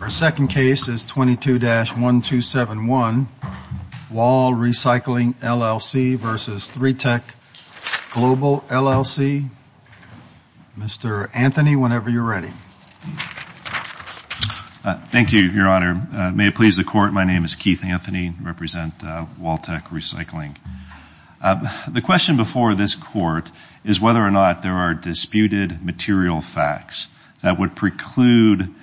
Our second case is 22-1271, Wall Recycling, LLC v. 3TEK Global, LLC. Mr. Anthony, whenever you're ready. Thank you, Your Honor. May it please the Court, my name is Keith Anthony. I represent WallTEK Recycling. The question before this that would preclude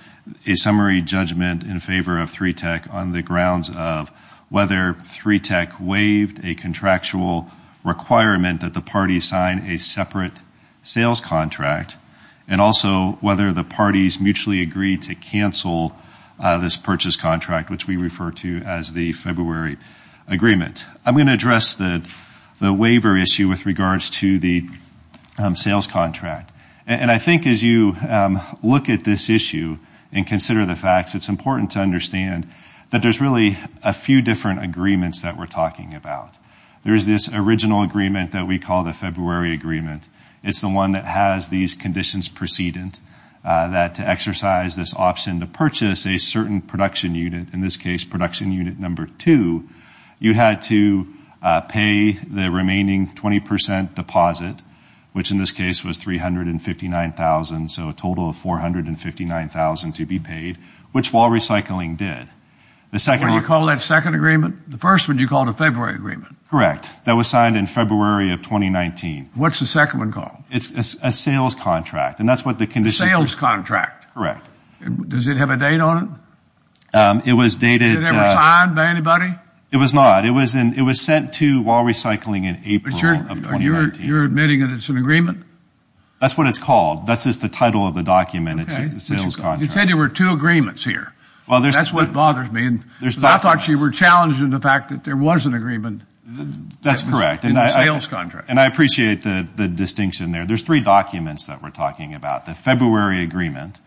a summary judgment in favor of 3TEK on the grounds of whether 3TEK waived a contractual requirement that the parties sign a separate sales contract and also whether the parties mutually agreed to cancel this purchase contract, which we refer to as the February agreement. I'm going to address the waiver issue with regards to the sales contract. And I think as you look at this issue and consider the facts, it's important to understand that there's really a few different agreements that we're talking about. There's this original agreement that we call the February agreement. It's the one that has these conditions precedent that to exercise this option to purchase a certain production unit, in this case production unit number two, you had to pay the remaining 20 percent deposit, which in this case was $359,000, so a total of $459,000 to be paid, which Wall Recycling did. You want to call that a second agreement? The first one you called a February agreement. Correct. That was signed in February of 2019. What's the second one called? It's a sales contract, and that's what the condition is. A sales contract? Correct. Does it have a date on it? It was dated... Was it ever signed by anybody? It was not. It was sent to Wall Recycling in April of 2019. You're admitting that it's an agreement? That's what it's called. That's just the title of the document. It's a sales contract. You said there were two agreements here. That's what bothers me. I thought you were challenging the fact that there was an agreement in the sales contract. And I appreciate the distinction there. There's three documents that we're talking about. The February agreement,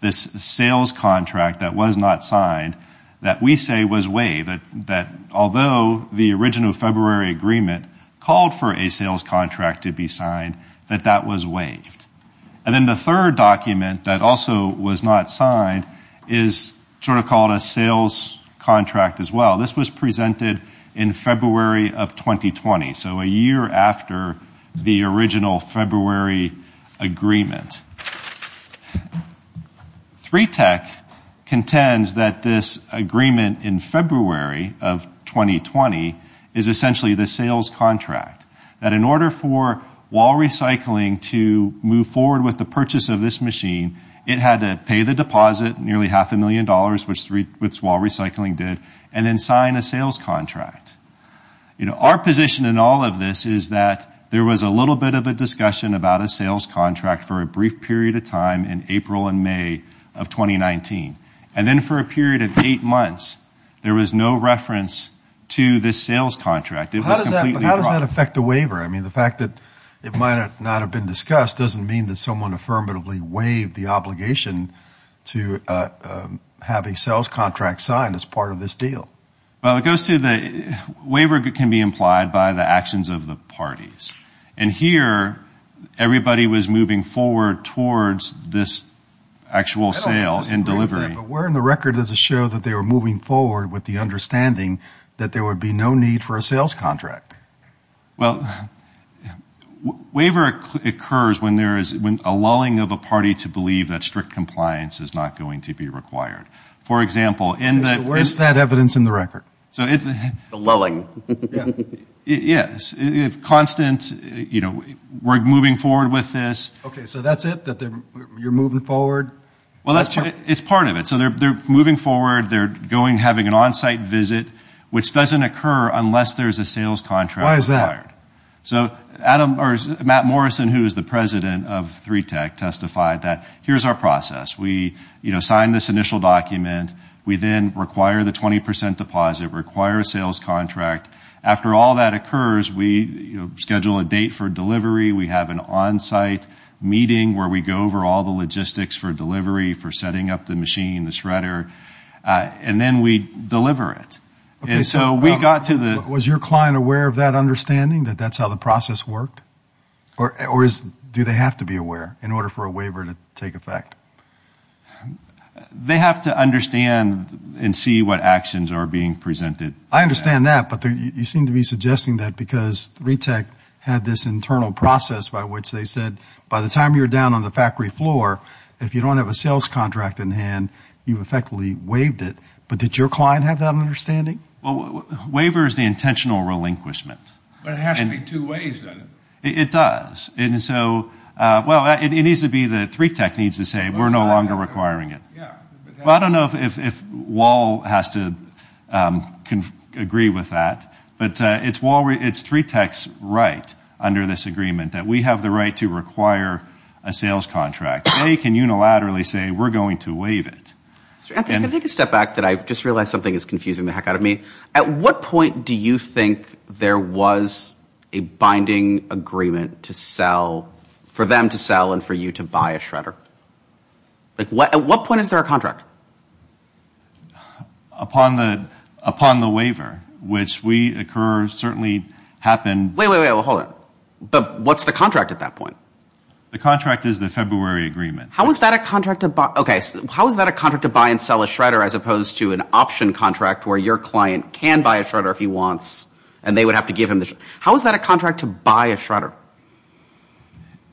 this sales contract that was not signed, that we say was waived, that although the original February agreement called for a sales contract to be signed, that that was waived. And then the third document that also was not signed is sort of called a sales contract as well. This was presented in February of 2020, so a year after the original February agreement. 3TEC contends that this agreement in February of 2020 is essentially the sales contract. That in order for Wall Recycling to move forward with the purchase of this machine, it had to pay the deposit, nearly half a million dollars, which Wall Recycling did, and then sign a sales contract. Our position in all of this is that there was a little bit of a discussion about a sales contract for a brief period of time in April and May of 2019. And then for a period of time, there was no reference to this sales contract. How does that affect the waiver? I mean, the fact that it might not have been discussed doesn't mean that someone affirmatively waived the obligation to have a sales contract signed as part of this deal. Well, it goes to the waiver can be implied by the actions of the parties. And here, everybody was moving forward towards this actual sale and delivery. But where in the record does it show that they were moving forward with the understanding that there would be no need for a sales contract? Well, a waiver occurs when there is a lulling of a party to believe that strict compliance is not going to be required. For example, in the... So where is that evidence in the record? So if... The lulling. Yes. If constant, you know, we're moving forward with this... Okay, so that's it? That you're moving forward? Well, it's part of it. So they're moving forward, they're going, having an on-site visit, which doesn't occur unless there's a sales contract required. Why is that? So Matt Morrison, who is the president of 3TAC, testified that, here's our process. We sign this initial document, we then require the 20% deposit, require a sales contract. After all that occurs, we schedule a date for delivery, we have an on-site meeting where we go over all the logistics for delivery, for setting up the machine, the shredder, and then we deliver it. And so we got to the... Was your client aware of that understanding, that that's how the process worked? Or do they have to be aware in order for a waiver to take effect? They have to understand and see what actions are being presented. I understand that, but you seem to be suggesting that because 3TAC had this internal process by which they said, by the time you're down on the factory floor, if you don't have a sales contract in hand, you've effectively waived it. But did your client have that understanding? Waiver is the intentional relinquishment. But it has to be two ways, doesn't it? It does. And so, well, it needs to be that 3TAC needs to say, we're no longer requiring it. Yeah. Well, I don't know if Wahl has to agree with that, but it's 3TAC's right under this agreement that we have the right to require a sales contract. They can unilaterally say, we're going to waive it. Anthony, can I take a step back, that I've just realized something is confusing the heck out of me? At what point do you think there was a binding agreement to sell, for them to sell and for you to buy a shredder? At what point is there a contract? Upon the waiver, which we occur, certainly happened... Wait, wait, wait, hold on. But what's the contract at that point? The contract is the February agreement. How is that a contract to buy and sell a shredder, as opposed to an option contract where your client can buy a shredder if he wants, and they would have to give him the shredder? How is that a contract to buy a shredder?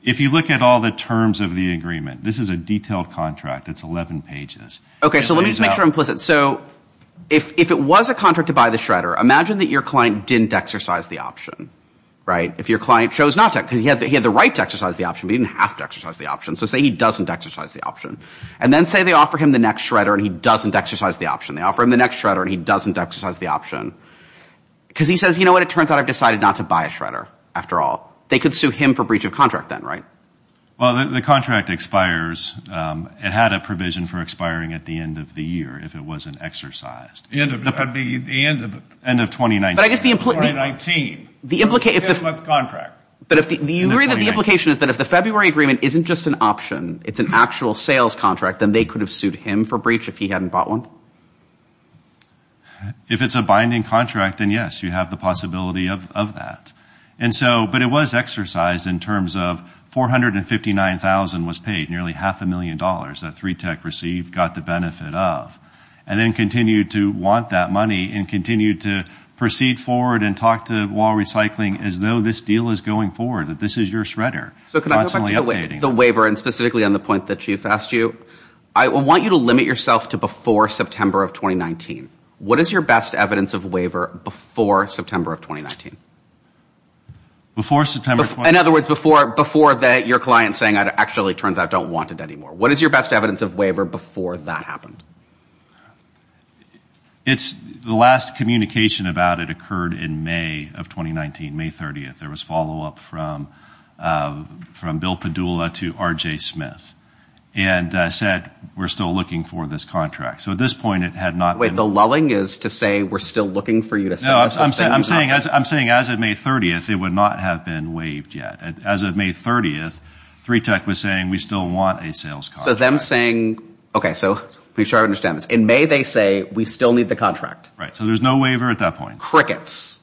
If you look at all the terms of the agreement, this is a detailed contract. It's 11 pages. Okay, so let me just make sure I'm implicit. So, if it was a contract to buy the shredder, imagine that your client didn't exercise the option, right? If your client chose not to, because he had the right to exercise the option, but he didn't have to exercise the option. So say he doesn't exercise the option. And then say they offer him the next shredder and he doesn't exercise the option. They offer him the next shredder and he doesn't exercise the option. Because he says, you know what, it turns out I've decided not to buy a shredder after all. They could sue him for breach of contract then, right? Well, the contract expires. It had a provision for expiring at the end of the year if it wasn't exercised. End of 2019. But I guess the implication is that if the February agreement isn't just an option, it's an actual sales contract, then they could have sued him for breach if he hadn't bought one? If it's a binding contract, then yes, you have the possibility of that. But it was exercised in terms of $459,000 was paid, nearly half a million dollars that continued to proceed forward and talk to Wahl Recycling as though this deal is going forward, that this is your shredder. So can I go back to the waiver and specifically on the point that Chief asked you? I want you to limit yourself to before September of 2019. What is your best evidence of waiver before September of 2019? Before September of 2019? In other words, before that your client is saying it actually turns out I don't want it anymore. What is your best evidence of waiver before that happened? The last communication about it occurred in May of 2019, May 30th. There was follow-up from Bill Padula to RJ Smith and said, we're still looking for this contract. So at this point it had not been... Wait, the lulling is to say we're still looking for you to sell us something? I'm saying as of May 30th, it would not have been waived yet. As of May 30th, 3TEC was saying we still want a sales contract. So them saying... Okay, so make sure I understand this. In May they say we still need the contract. Right. So there's no waiver at that point. Crickets.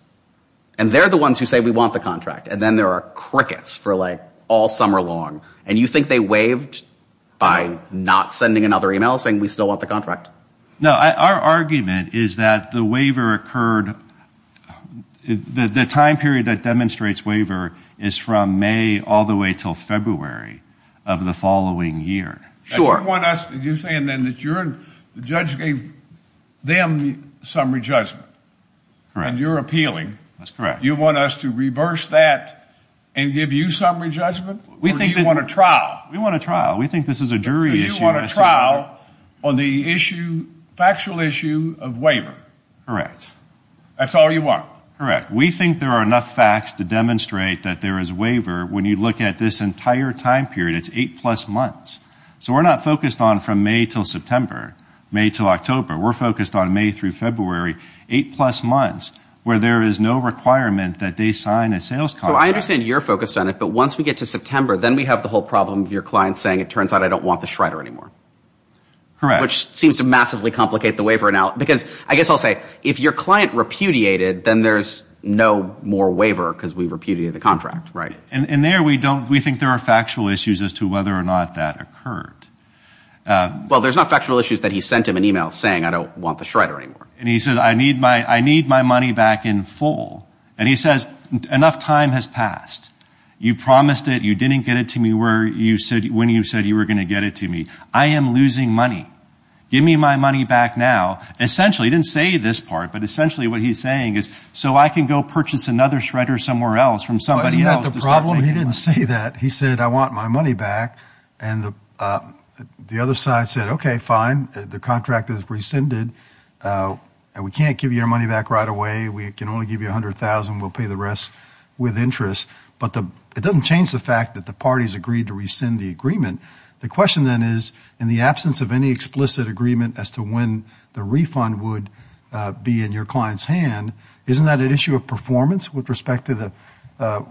And they're the ones who say we want the contract. And then there are crickets for like all summer long. And you think they waived by not sending another email saying we still want the contract? No. Our argument is that the waiver occurred, the time period that demonstrates waiver is from May all the way till February of the following year. Sure. You want us to... You're saying then that you're... The judge gave them summary judgment and you're appealing. That's correct. You want us to reverse that and give you summary judgment or do you want a trial? We want a trial. We think this is a jury issue. So you want a trial on the factual issue of waiver? Correct. That's all you want? Correct. We think there are enough facts to demonstrate that there is waiver when you look at this entire time period. It's eight plus months. So we're not focused on from May till September, May till October. We're focused on May through February, eight plus months where there is no requirement that they sign a sales contract. So I understand you're focused on it, but once we get to September, then we have the whole problem of your client saying, it turns out I don't want the Schrader anymore. Correct. Which seems to massively complicate the waiver now because I guess I'll say, if your client repudiated, then there's no more waiver because we repudiated the contract, right? And there we don't... We think there are factual issues as to whether or not that occurred. Well, there's not factual issues that he sent him an email saying, I don't want the Schrader anymore. And he said, I need my money back in full. And he says, enough time has passed. You promised it. You didn't get it to me where you said, when you said you were going to get it to me. I am losing money. Give me my money back now. Essentially, he didn't say this part, but essentially what he's saying is, so I can go purchase another Schrader somewhere else from somebody else. Isn't that the problem? He didn't say that. He said, I want my money back. And the other side said, okay, fine. The contract is rescinded. We can't give you your money back right away. We can only give you a hundred thousand. We'll pay the rest with interest. But it doesn't change the fact that the parties agreed to rescind the agreement. The question then is, in the absence of any explicit agreement as to when the refund would be in your client's hand, isn't that an issue of performance with respect to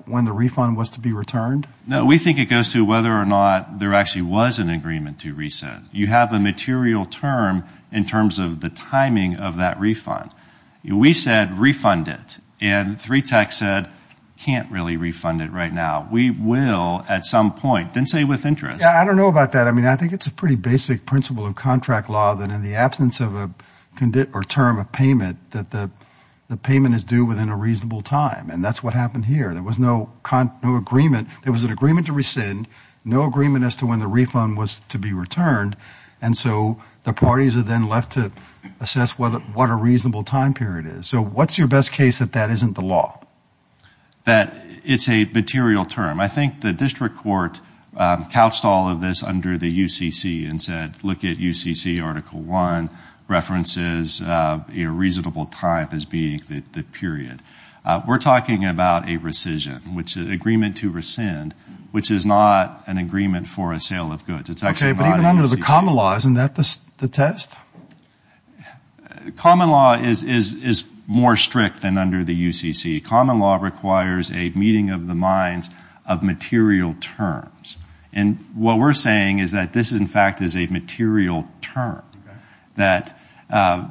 when the refund was to be returned? No. We think it goes to whether or not there actually was an agreement to rescind. You have a material term in terms of the timing of that refund. We said, refund it. And 3TAC said, can't really refund it right now. We will at some point. Didn't say with interest. Yeah, I don't know about that. I mean, I think it's a pretty basic principle of contract law that in the absence of a term of payment, that the payment is due within a reasonable time. And that's what happened here. There was no agreement. There was an agreement to rescind, no agreement as to when the refund was to be returned. And so the parties are then left to assess what a reasonable time period is. So what's your best case that that isn't the law? That it's a material term. I think the district court couched all of this under the UCC and said, look at UCC Article 1, references a reasonable time as being the period. We're talking about a rescission, which is an agreement to rescind, which is not an agreement for a sale of goods. It's actually not UCC. Okay, but even under the common law, isn't that the test? Common law is more strict than under the UCC. Common law requires a meeting of the minds of material terms. And what we're saying is that this, in fact, is a material term. That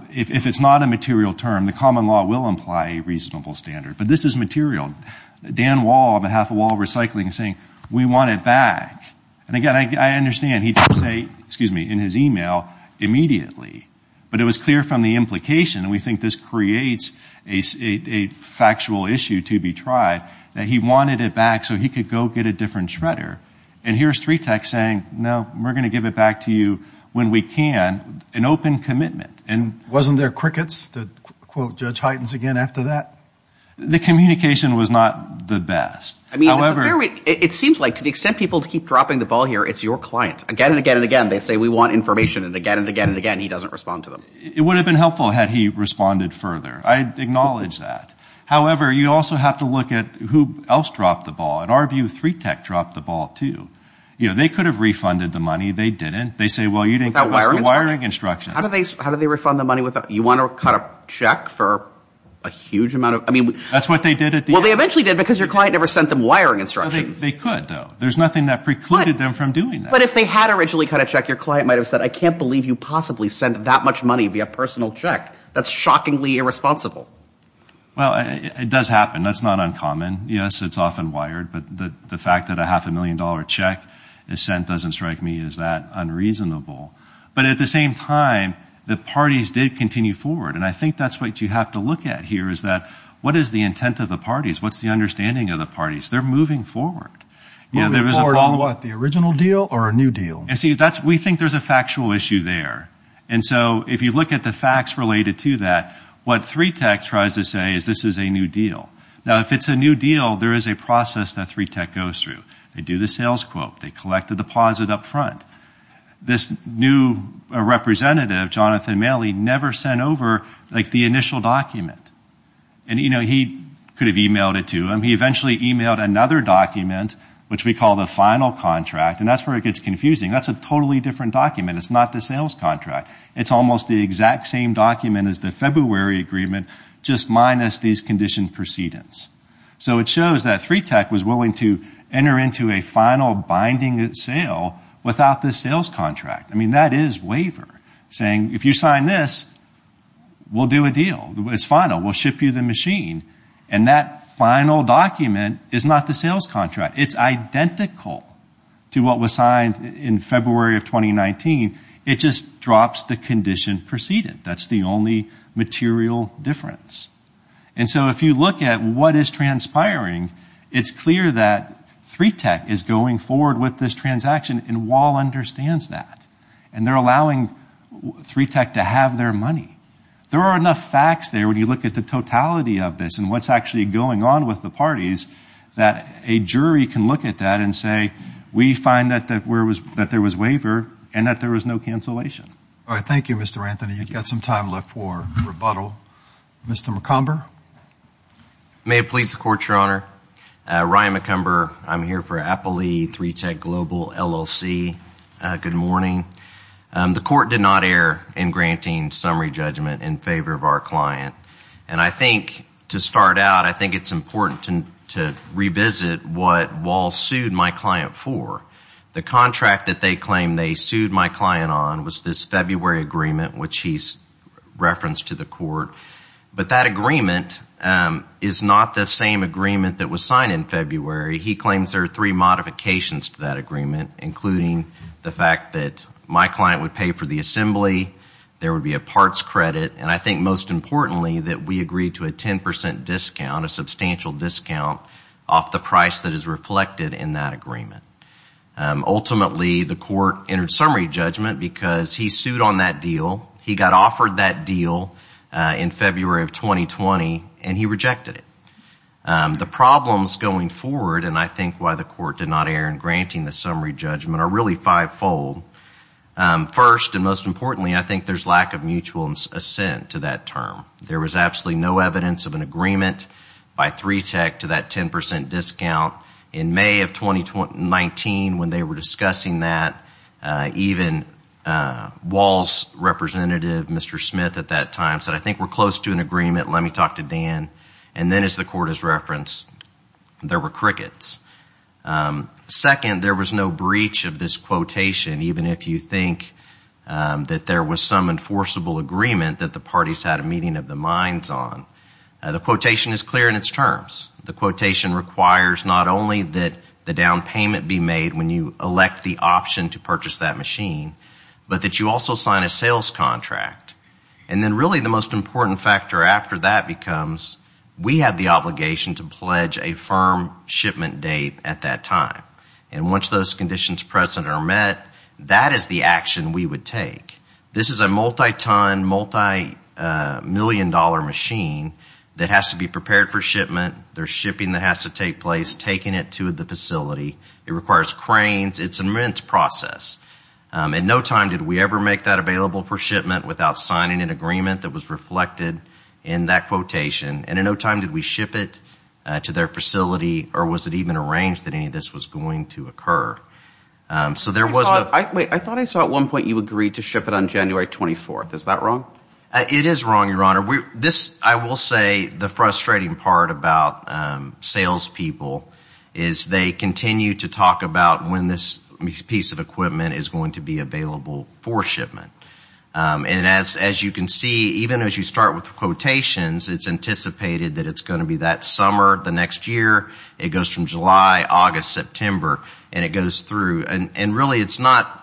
if it's not a material term, the common law will imply a reasonable standard. But this is material. Dan Wall, on behalf of Wall Recycling, is saying, we want it back. And again, I understand he didn't say in his email immediately, but it was clear from the implication, and we think this creates a factual issue to be tried, that he wanted it back so he could go get a different shredder. And here's 3TAC saying, no, we're going to give it back to you when we can, an open commitment. Wasn't there crickets, to quote Judge Heitens again after that? The communication was not the best. It seems like, to the extent people keep dropping the ball here, it's your client. Again and again and again, they say we want information, and again and again and again, he doesn't respond to them. It would have been helpful had he responded further. I acknowledge that. However, you also have to look at who else dropped the ball. In our view, 3TAC dropped the ball, too. They could have refunded the money. They didn't. They say, well, you didn't follow the wiring instructions. How did they refund the money? You want to cut a check for a huge amount of money? That's what they did at the end. Well, they eventually did because your client never sent them wiring instructions. They could, though. There's nothing that precluded them from doing that. But if they had originally cut a check, your client might have said, I can't believe you possibly sent that much money via personal check. That's shockingly irresponsible. Well, it does happen. That's not uncommon. Yes, it's often wired, but the fact that a half a million dollar check is sent doesn't strike me as that unreasonable. But at the same time, the parties did continue forward. And I think that's what you have to look at here is that what is the intent of the parties? What's the understanding of the parties? They're moving forward. Moving forward on what? The original deal or a new deal? We think there's a factual issue there. And so if you look at the facts related to that, what 3TAC tries to say is this is a new deal. Now, if it's a new deal, there is a process that 3TAC goes through. They do the sales quote. They collect the deposit up front. This new representative, Jonathan Maley, never sent over the initial document. And he could have emailed it to him. He eventually emailed another document, which we call the final contract, and that's where it gets confusing. That's a totally different document. It's not the sales contract. It's almost the exact same document as the February agreement, just minus these condition precedents. So it shows that 3TAC was willing to enter into a final binding sale without the sales contract. I mean, that is waiver, saying if you sign this, we'll do a deal. It's final. We'll ship you the machine. And that final document is not the sales contract. It's identical to what was signed in February of 2019. It just drops the condition precedent. That's the only material difference. And so if you look at what is transpiring, it's clear that 3TAC is going forward with this transaction. And Wahl understands that. And they're allowing 3TAC to have their money. There are enough facts there when you look at the totality of this and what's actually going on with the parties that a jury can look at that and say, we find that there was waiver and that there was no cancellation. All right. Thank you, Mr. Anthony. You've got some time left for rebuttal. Mr. McComber? May it please the Court, Your Honor. Ryan McComber. I'm here for Apple E3TAC Global LLC. Good morning. The Court did not err in granting summary judgment in favor of our client. And I think to start out, I think it's important to revisit what Wahl sued my client for. The contract that they claimed they sued my client on was this February agreement, which he's referenced to the Court. But that agreement is not the same agreement that was signed in February. He claims there are three modifications to that agreement, including the fact that my client would pay for the assembly, there would be a parts credit, and I think most importantly that we agreed to a 10% discount, a substantial discount off the price that is reflected in that agreement. Ultimately, the Court entered summary judgment because he sued on that deal. He got offered that deal in February of 2020, and he rejected it. The problems going forward, and I think why the Court did not err in granting the summary judgment, are really fivefold. First, and most importantly, I think there's lack of mutual assent to that term. There was absolutely no evidence of an agreement by 3TEC to that 10% discount in May of 2019 when they were discussing that. Even Wahl's representative, Mr. Smith, at that time said, I think we're close to an agreement, let me talk to Dan. And then as the Court has referenced, there were crickets. Second, there was no breach of this quotation, even if you think that there was some enforceable agreement that the parties had a meeting of the minds on. The quotation is clear in its terms. The quotation requires not only that the down payment be made when you elect the option to purchase that machine, but that you also sign a sales contract. And then really the most important factor after that becomes we have the obligation to pledge a firm shipment date at that time. And once those conditions present are met, that is the action we would take. This is a multi-ton, multi-million dollar machine that has to be prepared for shipment. There's shipping that has to take place, taking it to the facility. It requires cranes. It's an immense process. In no time did we ever make that available for shipment without signing an agreement that was reflected in that quotation. And in no time did we ship it to their facility or was it even arranged that any of this was going to occur. I thought I saw at one point you agreed to ship it on January 24th. Is that wrong? It is wrong, Your Honor. I will say the frustrating part about salespeople is they continue to talk about when this piece of equipment is going to be available for shipment. And as you can see, even as you start with the quotations, it's anticipated that it's going to be that summer, the next year. It goes from July, August, September. And it goes through. And really it's not,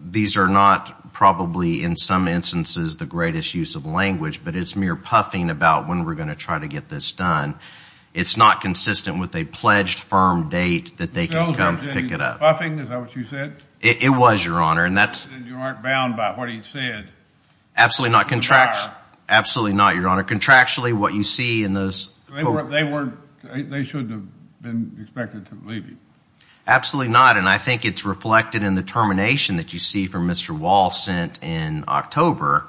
these are not probably in some instances the greatest use of language, but it's mere puffing about when we're going to try to get this done. It's not consistent with a pledged firm date that they can come pick it up. Puffing, is that what you said? It was, Your Honor. And you aren't bound by what he said. Absolutely not, Your Honor. Contractually, what you see in those... They shouldn't have been expected to leave you. Absolutely not. And I think it's reflected in the termination that you see from Mr. Wall sent in October.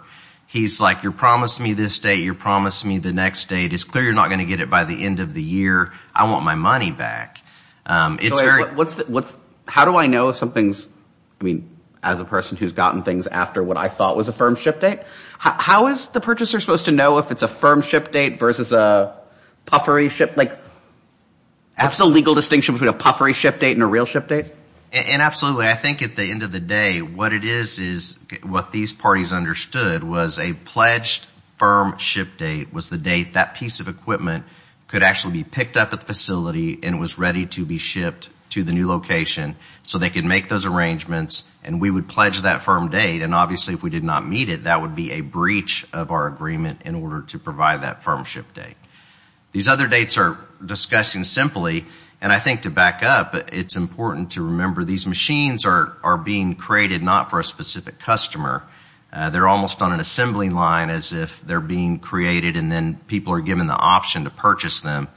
He's like, you promised me this date, you promised me the next date. It's clear you're not going to get it by the end of the year. I want my money back. How do I know if something's, I mean, as a person who's gotten things after what I thought was a firm ship date, how is the purchaser supposed to know if it's a firm ship date versus a puffery ship? Like, what's the legal distinction between a puffery ship date and a real ship date? And absolutely, I think at the end of the day, what it is is what these parties understood was a pledged firm ship date was the date that piece of equipment could actually be picked up at the facility and was ready to be shipped to the new location so they could make those arrangements. And we would pledge that firm date. And obviously, if we did not meet it, that would be a breach of our agreement in order to provide that firm ship date. These other dates are discussing simply, and I think to back up, it's important to remember these machines are being created not for a specific customer. They're almost on an assembly line as if they're being created and then people are given the option to purchase them.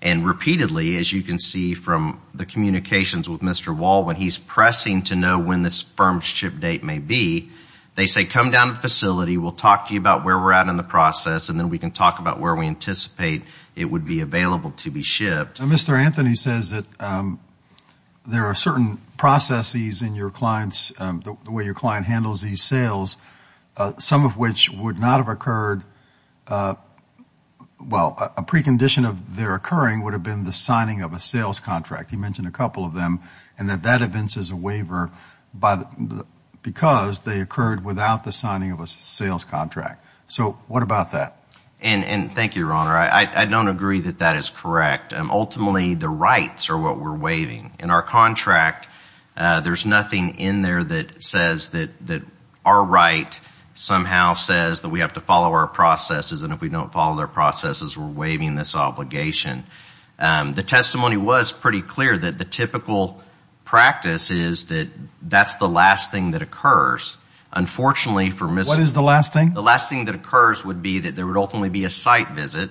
And repeatedly, as you can see from the communications with Mr. Wall, when he's pressing to know when this firm ship date may be, they say, come down to the facility. We'll talk to you about where we're at in the process and then we can talk about where we anticipate it would be available to be shipped. Mr. Anthony says that there are certain processes in the way your client handles these sales, some of which would not have occurred. Well, a precondition of their occurring would have been the signing of a sales contract. He mentioned a couple of them and that that evinces a waiver because they occurred without the signing of a sales contract. So what about that? And thank you, Your Honor. I don't agree that that is correct. Ultimately, the rights are what we're waiving. In our contract, there's nothing in there that says that our right somehow says that we have to follow our processes and if we don't follow our processes, we're waiving this obligation. The testimony was pretty clear that the typical practice is that that's the last thing that occurs. Unfortunately, for... What is the last thing? The last thing that occurs would be that there would ultimately be a site visit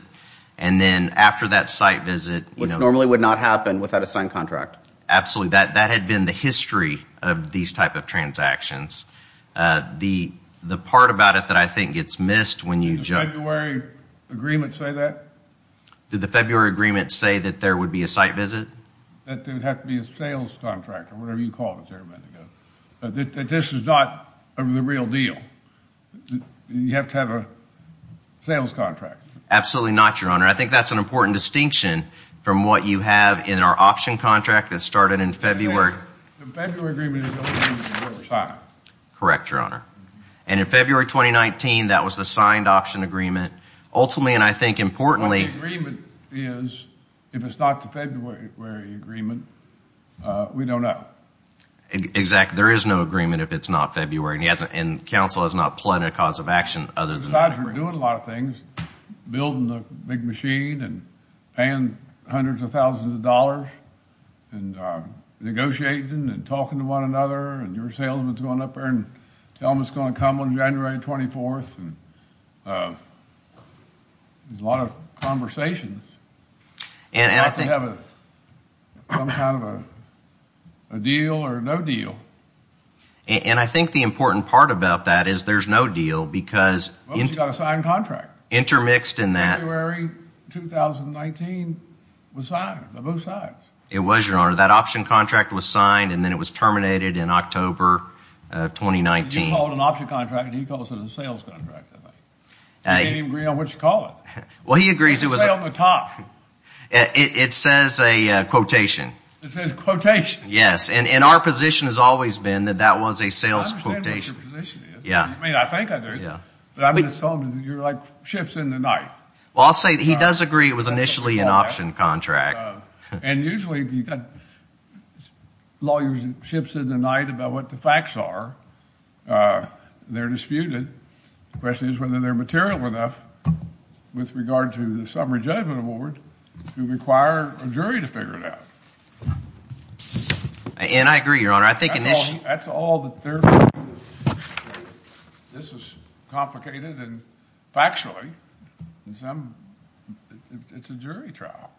and then after that site visit... Which normally would not happen without a signed contract. Absolutely. That had been the history of these type of transactions. The part about it that I think gets missed when you... Did the February agreement say that? Did the February agreement say that there would be a site visit? That there would have to be a sales contract or whatever you called it there a minute ago. That this is not the real deal. You have to have a sales contract. Absolutely not, Your Honor. I think that's an important distinction from what you have in our option contract that started in February. The February agreement is the only one that was signed. Correct, Your Honor. And in February 2019, that was the signed option agreement. Ultimately, and I think importantly... If it's not the February agreement, we don't know. Exactly. There is no agreement if it's not February. And counsel has not planned a cause of action other than... Besides, we're doing a lot of things. Building the big machine and paying hundreds of thousands of dollars and negotiating and talking to one another and your salesman's going up there and tell them it's going to come on January 24th. There's a lot of conversations. You have to have some kind of a deal or no deal. And I think the important part about that is there's no deal because... Well, you've got a signed contract. Intermixed in that. February 2019 was signed by both sides. It was, Your Honor. That option contract was signed and then it was terminated in October of 2019. You called it an option contract. He calls it a sales contract, I think. He didn't even agree on what you call it. Well, he agrees it was... It says on the top. It says a quotation. It says quotation. Yes, and our position has always been that that was a sales quotation. I understand what your position is. Yeah. I mean, I think I do. But I'm assuming you're like ships in the night. Well, I'll say he does agree it was initially an option contract. And usually, if you've got lawyerships in the night about what the facts are, they're disputed. The question is whether they're material enough with regard to the summary judgment award to require a jury to figure it out. And I agree, Your Honor. I think initially... That's all that they're... This is complicated and factually in some... It's a jury trial.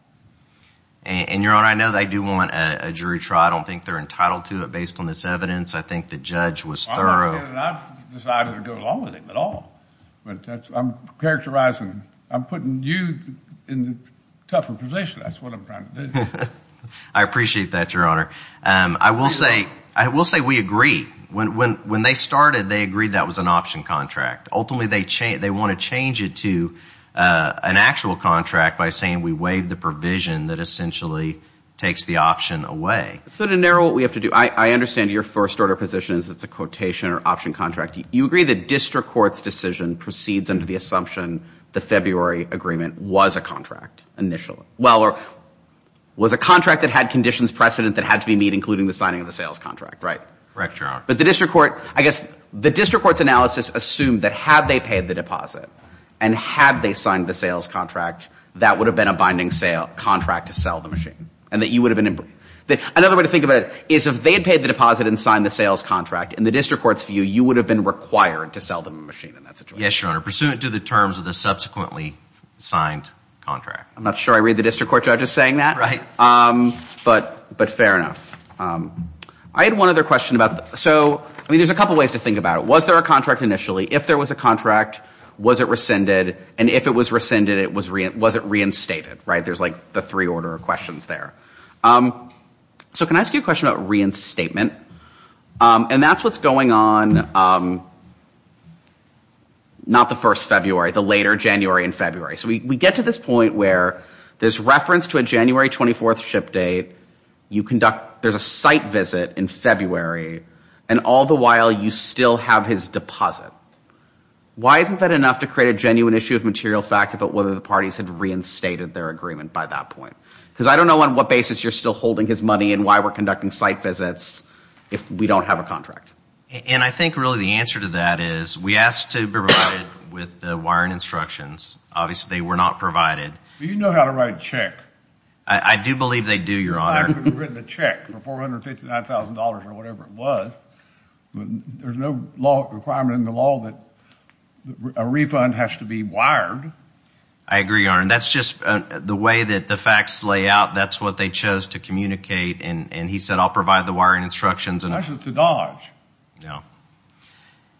And, Your Honor, I know they do want a jury trial. I don't think they're entitled to it based on this evidence. I think the judge was thorough. I'm not saying that I've decided to go along with it at all. But I'm characterizing... I'm putting you in a tougher position. That's what I'm trying to do. I appreciate that, Your Honor. I will say we agree. When they started, they agreed that was an option contract. Ultimately, they want to change it to an actual contract by saying we waived the provision that essentially takes the option away. So to narrow what we have to do, I understand your first-order position is it's a quotation or option contract. You agree the district court's decision proceeds under the assumption the February agreement was a contract initially. Well, or was a contract that had conditions precedent that had to be met, including the signing of the sales contract, right? Correct, Your Honor. But the district court... Had they paid the deposit and had they signed the sales contract, that would have been a binding contract to sell the machine and that you would have been... Another way to think about it is if they had paid the deposit and signed the sales contract, in the district court's view, you would have been required to sell the machine in that situation. Yes, Your Honor, pursuant to the terms of the subsequently signed contract. I'm not sure I read the district court judge as saying that. Right. But fair enough. I had one other question about... So, I mean, there's a couple ways to think about it. Was there a contract initially? If there was a contract, was it rescinded? And if it was rescinded, was it reinstated? Right? There's like the three order of questions there. So can I ask you a question about reinstatement? And that's what's going on... Not the first February, the later January and February. So we get to this point where there's reference to a January 24th ship date. You conduct... There's a site visit in February. And all the while, you still have his deposit. Why isn't that enough to create a genuine issue of material fact about whether the parties had reinstated their agreement by that point? Because I don't know on what basis you're still holding his money and why we're conducting site visits if we don't have a contract. And I think really the answer to that is we asked to be provided with the wiring instructions. Obviously, they were not provided. Do you know how to write a check? I do believe they do, Your Honor. I could have written a check for $459,000 or whatever it was. There's no law requirement in the law that a refund has to be wired. I agree, Your Honor. That's just the way that the facts lay out. That's what they chose to communicate. And he said, I'll provide the wiring instructions. That's just a dodge. No.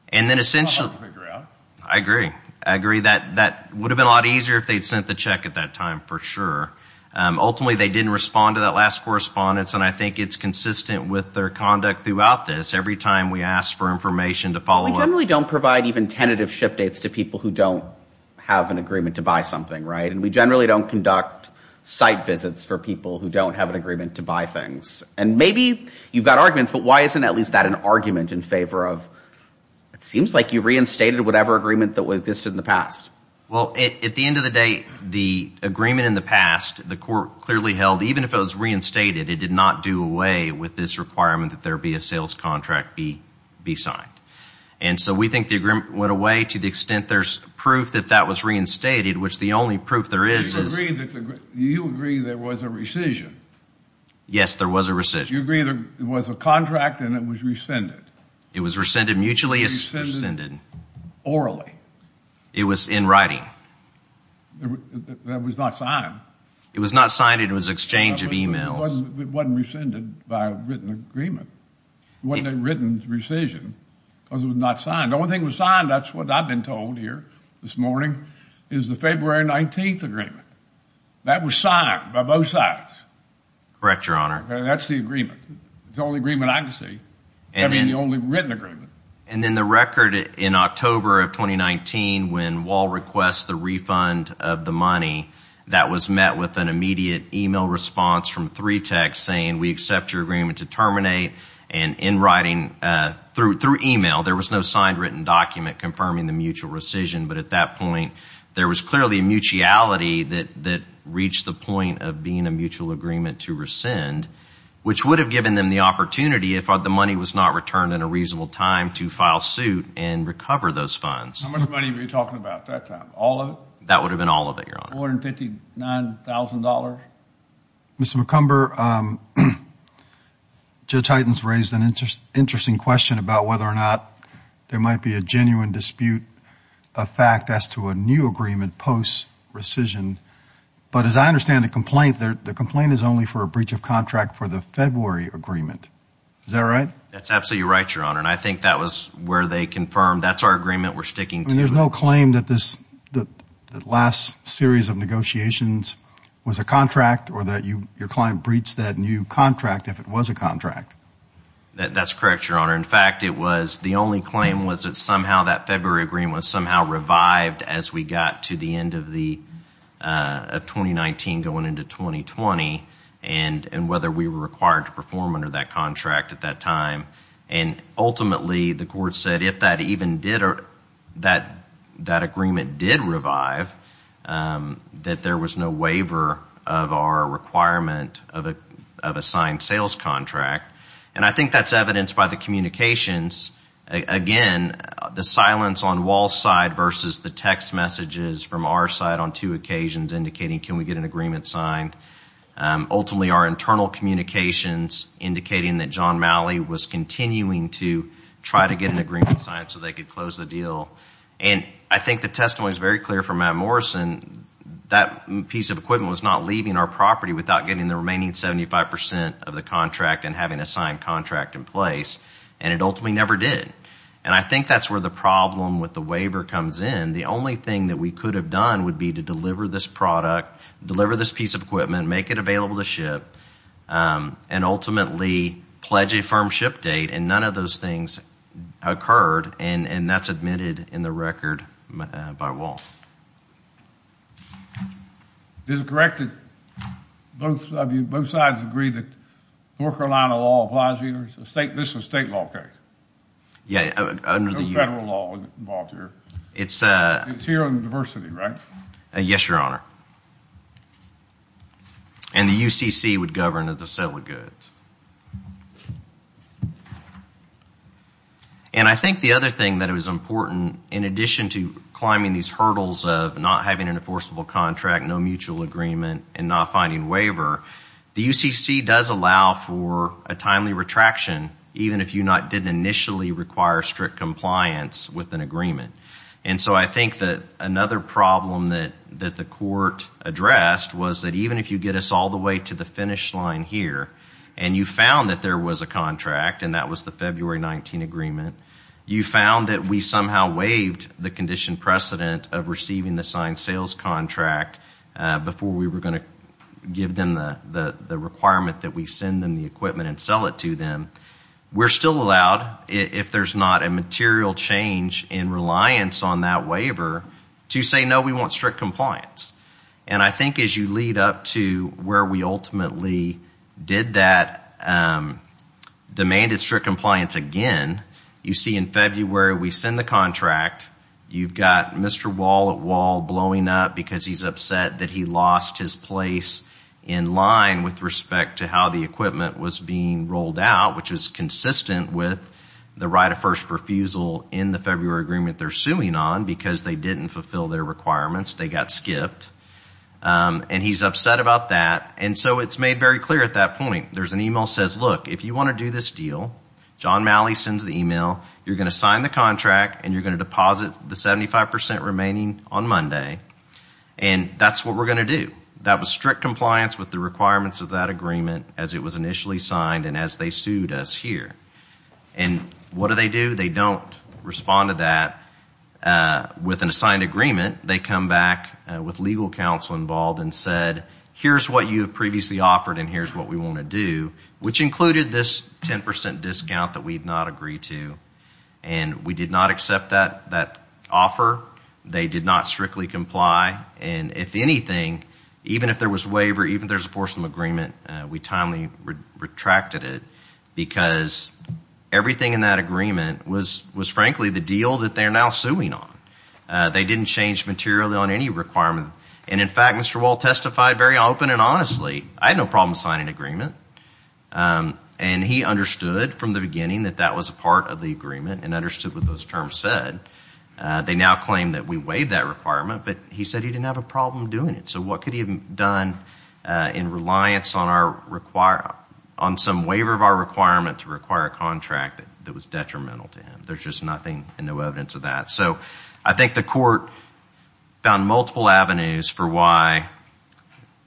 And then essentially... I'd like to figure it out. I agree. I agree. That would have been a lot easier if they'd sent the check at that time for sure. Ultimately, they didn't respond to that last correspondence, and I think it's consistent with their conduct throughout this. Every time we ask for information to follow up... We generally don't provide even tentative ship dates to people who don't have an agreement to buy something, right? And we generally don't conduct site visits for people who don't have an agreement to buy things. And maybe you've got arguments, but why isn't at least that an argument in favor of... It seems like you reinstated whatever agreement that existed in the past. Well, at the end of the day, the agreement in the past, the court clearly held, even if it was reinstated, it did not do away with this requirement that there be a sales contract be signed. And so we think the agreement went away to the extent there's proof that that was reinstated, which the only proof there is is... You agree there was a rescission. Yes, there was a rescission. You agree there was a contract and it was rescinded. It was rescinded mutually. It was rescinded orally. It was in writing. That was not signed. It was not signed. It was an exchange of emails. It wasn't rescinded by a written agreement. It wasn't a written rescission because it was not signed. The only thing that was signed, that's what I've been told here this morning, is the February 19th agreement. That was signed by both sides. Correct, Your Honor. That's the agreement. It's the only agreement I can see. I mean, the only written agreement. And then the record in October of 2019 when Wall requests the refund of the money, that was met with an immediate email response from 3TEC saying we accept your agreement to terminate. And in writing, through email, there was no signed written document confirming the mutual rescission. But at that point, there was clearly a mutuality that reached the point of being a mutual agreement to rescind, which would have given them the opportunity if the money was not returned in a reasonable time to file suit and recover those funds. How much money were you talking about at that time? All of it? That would have been all of it, Your Honor. $459,000? Mr. McCumber, Judge Hyten has raised an interesting question about whether or not there might be a genuine dispute, a fact as to a new agreement post rescission. But as I understand the complaint, the complaint is only for a breach of contract for the February agreement. Is that right? That's absolutely right, Your Honor. And I think that was where they confirmed that's our agreement, we're sticking to it. And there's no claim that this last series of negotiations was a contract or that your client breached that new contract if it was a contract? That's correct, Your Honor. In fact, the only claim was that somehow that February agreement was somehow revived as we got to the end of 2019 going into 2020 and whether we were required to perform under that contract at that time. And ultimately, the court said if that agreement did revive, that there was no waiver of our requirement of a signed sales contract. And I think that's evidenced by the communications. Again, the silence on Wall's side versus the text messages from our side on two occasions indicating can we get an agreement signed. Ultimately, our internal communications indicating that John Malley was continuing to try to get an agreement signed so they could close the deal. And I think the testimony is very clear from Matt Morrison. That piece of equipment was not leaving our property without getting the remaining 75% of the contract and having a signed contract in place, and it ultimately never did. And I think that's where the problem with the waiver comes in. The only thing that we could have done would be to deliver this product, deliver this piece of equipment, make it available to ship, and ultimately pledge a firm ship date. And none of those things occurred, and that's admitted in the record by Wall. Is it correct that both sides agree that North Carolina law applies here? This is a state law case. Yeah. No federal law involved here. It's here on diversity, right? Yes, Your Honor. And the UCC would govern the sale of goods. And I think the other thing that is important in addition to climbing these hurdles of not having an enforceable contract, no mutual agreement, and not finding waiver, the UCC does allow for a timely retraction even if you did not initially require strict compliance with an agreement. And so I think that another problem that the court addressed was that even if you get us all the way to the finish line here and you found that there was a contract, and that was the February 19 agreement, you found that we somehow waived the condition precedent of receiving the signed sales contract before we were going to give them the requirement that we send them the equipment and sell it to them, we're still allowed, if there's not a material change in reliance on that waiver, to say, no, we want strict compliance. And I think as you lead up to where we ultimately did that, demanded strict compliance again, you see in February we send the contract. You've got Mr. Wall at Wall blowing up because he's upset that he lost his place in line with respect to how the equipment was being rolled out, which is consistent with the right of first refusal in the February agreement they're suing on because they didn't fulfill their requirements. They got skipped. And he's upset about that. And so it's made very clear at that point. There's an email that says, look, if you want to do this deal, John Malley sends the email, you're going to sign the contract, and you're going to deposit the 75% remaining on Monday. And that's what we're going to do. And that was strict compliance with the requirements of that agreement as it was initially signed and as they sued us here. And what do they do? They don't respond to that with an assigned agreement. They come back with legal counsel involved and said, here's what you have previously offered and here's what we want to do, which included this 10% discount that we did not agree to. And we did not accept that offer. They did not strictly comply. And if anything, even if there was waiver, even if there's a portion of agreement, we timely retracted it because everything in that agreement was, frankly, the deal that they're now suing on. They didn't change materially on any requirement. And, in fact, Mr. Wall testified very open and honestly. I had no problem signing an agreement. And he understood from the beginning that that was a part of the agreement and understood what those terms said. They now claim that we waived that requirement. But he said he didn't have a problem doing it. So what could he have done in reliance on some waiver of our requirement to require a contract that was detrimental to him? There's just nothing and no evidence of that. So I think the court found multiple avenues for why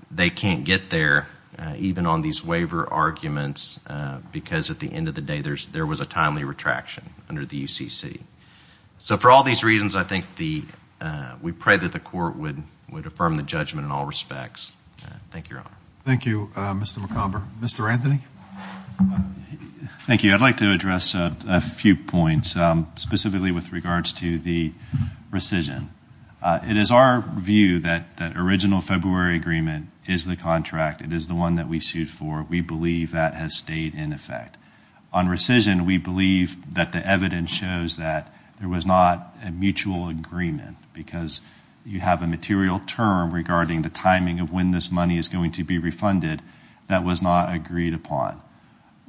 they can't get there, even on these waiver arguments, because at the end of the day there was a timely retraction under the UCC. So for all these reasons, I think we pray that the court would affirm the judgment in all respects. Thank you, Your Honor. Thank you, Mr. McComber. Mr. Anthony? Thank you. I'd like to address a few points, specifically with regards to the rescission. It is our view that the original February agreement is the contract. It is the one that we sued for. We believe that has stayed in effect. On rescission, we believe that the evidence shows that there was not a mutual agreement because you have a material term regarding the timing of when this money is going to be refunded that was not agreed upon.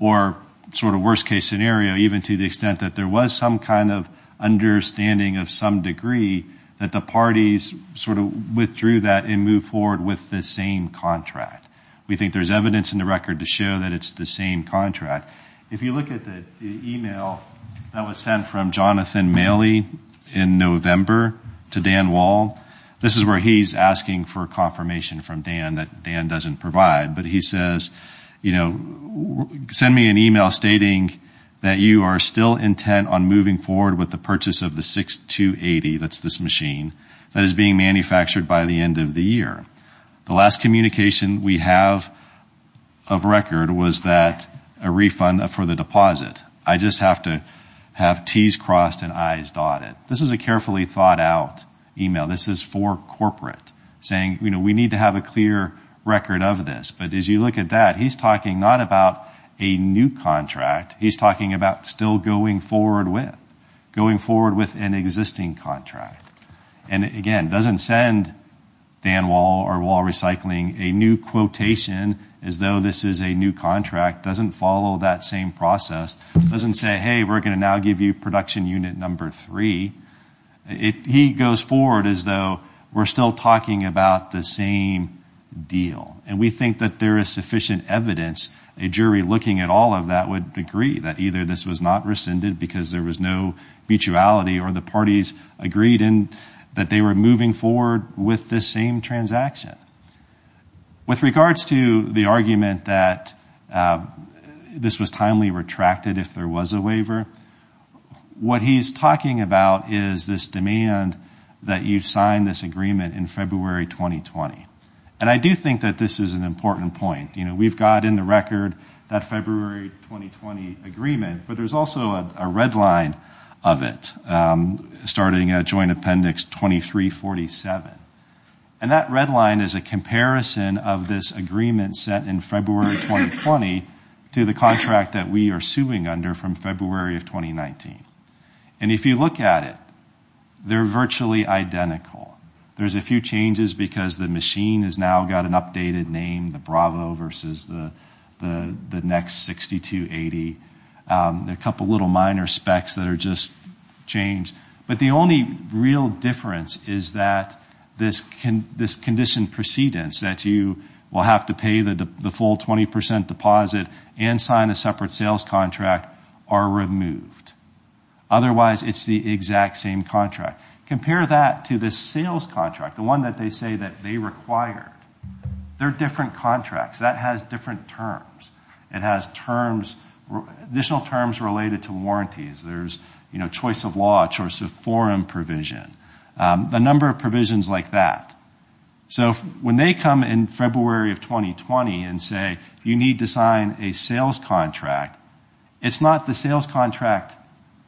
Or sort of worst-case scenario, even to the extent that there was some kind of understanding of some degree that the parties sort of withdrew that and moved forward with the same contract. We think there's evidence in the record to show that it's the same contract. If you look at the email that was sent from Jonathan Maley in November to Dan Wall, this is where he's asking for confirmation from Dan that Dan doesn't provide. But he says, you know, send me an email stating that you are still intent on moving forward with the purchase of the 6280, that's this machine, that is being manufactured by the end of the year. The last communication we have of record was that a refund for the deposit. I just have to have T's crossed and I's dotted. This is a carefully thought out email. This is for corporate saying, you know, we need to have a clear record of this. But as you look at that, he's talking not about a new contract. He's talking about still going forward with, going forward with an existing contract. And, again, doesn't send Dan Wall or Wall Recycling a new quotation as though this is a new contract. Doesn't follow that same process. Doesn't say, hey, we're going to now give you production unit number three. He goes forward as though we're still talking about the same deal. And we think that there is sufficient evidence. A jury looking at all of that would agree that either this was not rescinded because there was no mutuality or the parties agreed that they were moving forward with this same transaction. With regards to the argument that this was timely retracted if there was a waiver, what he's talking about is this demand that you sign this agreement in February 2020. And I do think that this is an important point. We've got in the record that February 2020 agreement. But there's also a red line of it starting at Joint Appendix 2347. And that red line is a comparison of this agreement set in February 2020 to the contract that we are suing under from February of 2019. And if you look at it, they're virtually identical. There's a few changes because the machine has now got an updated name, the Bravo versus the next 6280. There are a couple of little minor specs that are just changed. But the only real difference is that this condition precedence that you will have to pay the full 20% deposit and sign a separate sales contract are removed. Otherwise, it's the exact same contract. Compare that to the sales contract, the one that they say that they required. They're different contracts. That has different terms. It has additional terms related to warranties. There's choice of law, choice of forum provision, a number of provisions like that. So when they come in February of 2020 and say you need to sign a sales contract, it's not the sales contract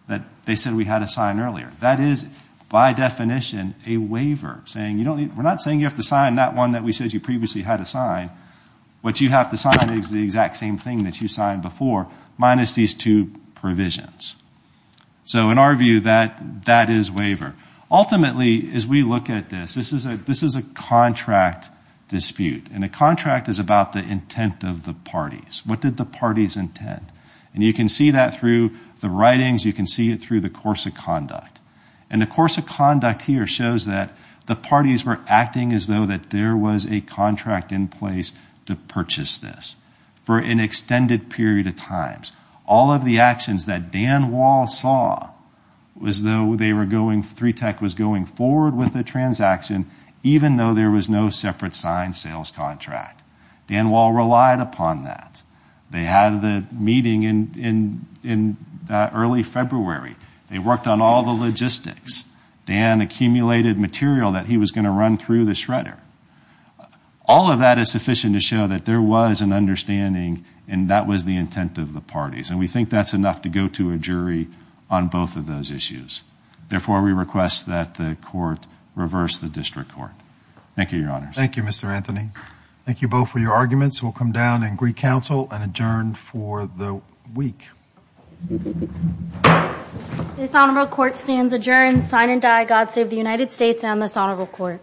that they said we had to sign earlier. That is, by definition, a waiver. We're not saying you have to sign that one that we said you previously had to sign. What you have to sign is the exact same thing that you signed before minus these two provisions. So in our view, that is waiver. Ultimately, as we look at this, this is a contract dispute. And a contract is about the intent of the parties. What did the parties intend? And you can see that through the writings. You can see it through the course of conduct. And the course of conduct here shows that the parties were acting as though that there was a contract in place to purchase this for an extended period of times. All of the actions that Dan Wall saw was though they were going, 3TAC was going forward with the transaction, even though there was no separate signed sales contract. Dan Wall relied upon that. They had the meeting in early February. They worked on all the logistics. Dan accumulated material that he was going to run through the shredder. All of that is sufficient to show that there was an understanding and that was the intent of the parties. And we think that's enough to go to a jury on both of those issues. Therefore, we request that the court reverse the district court. Thank you, Your Honors. Thank you, Mr. Anthony. Thank you both for your arguments. We'll come down and agree counsel and adjourn for the week. This honorable court stands adjourned. Sign and die, God save the United States and this honorable court.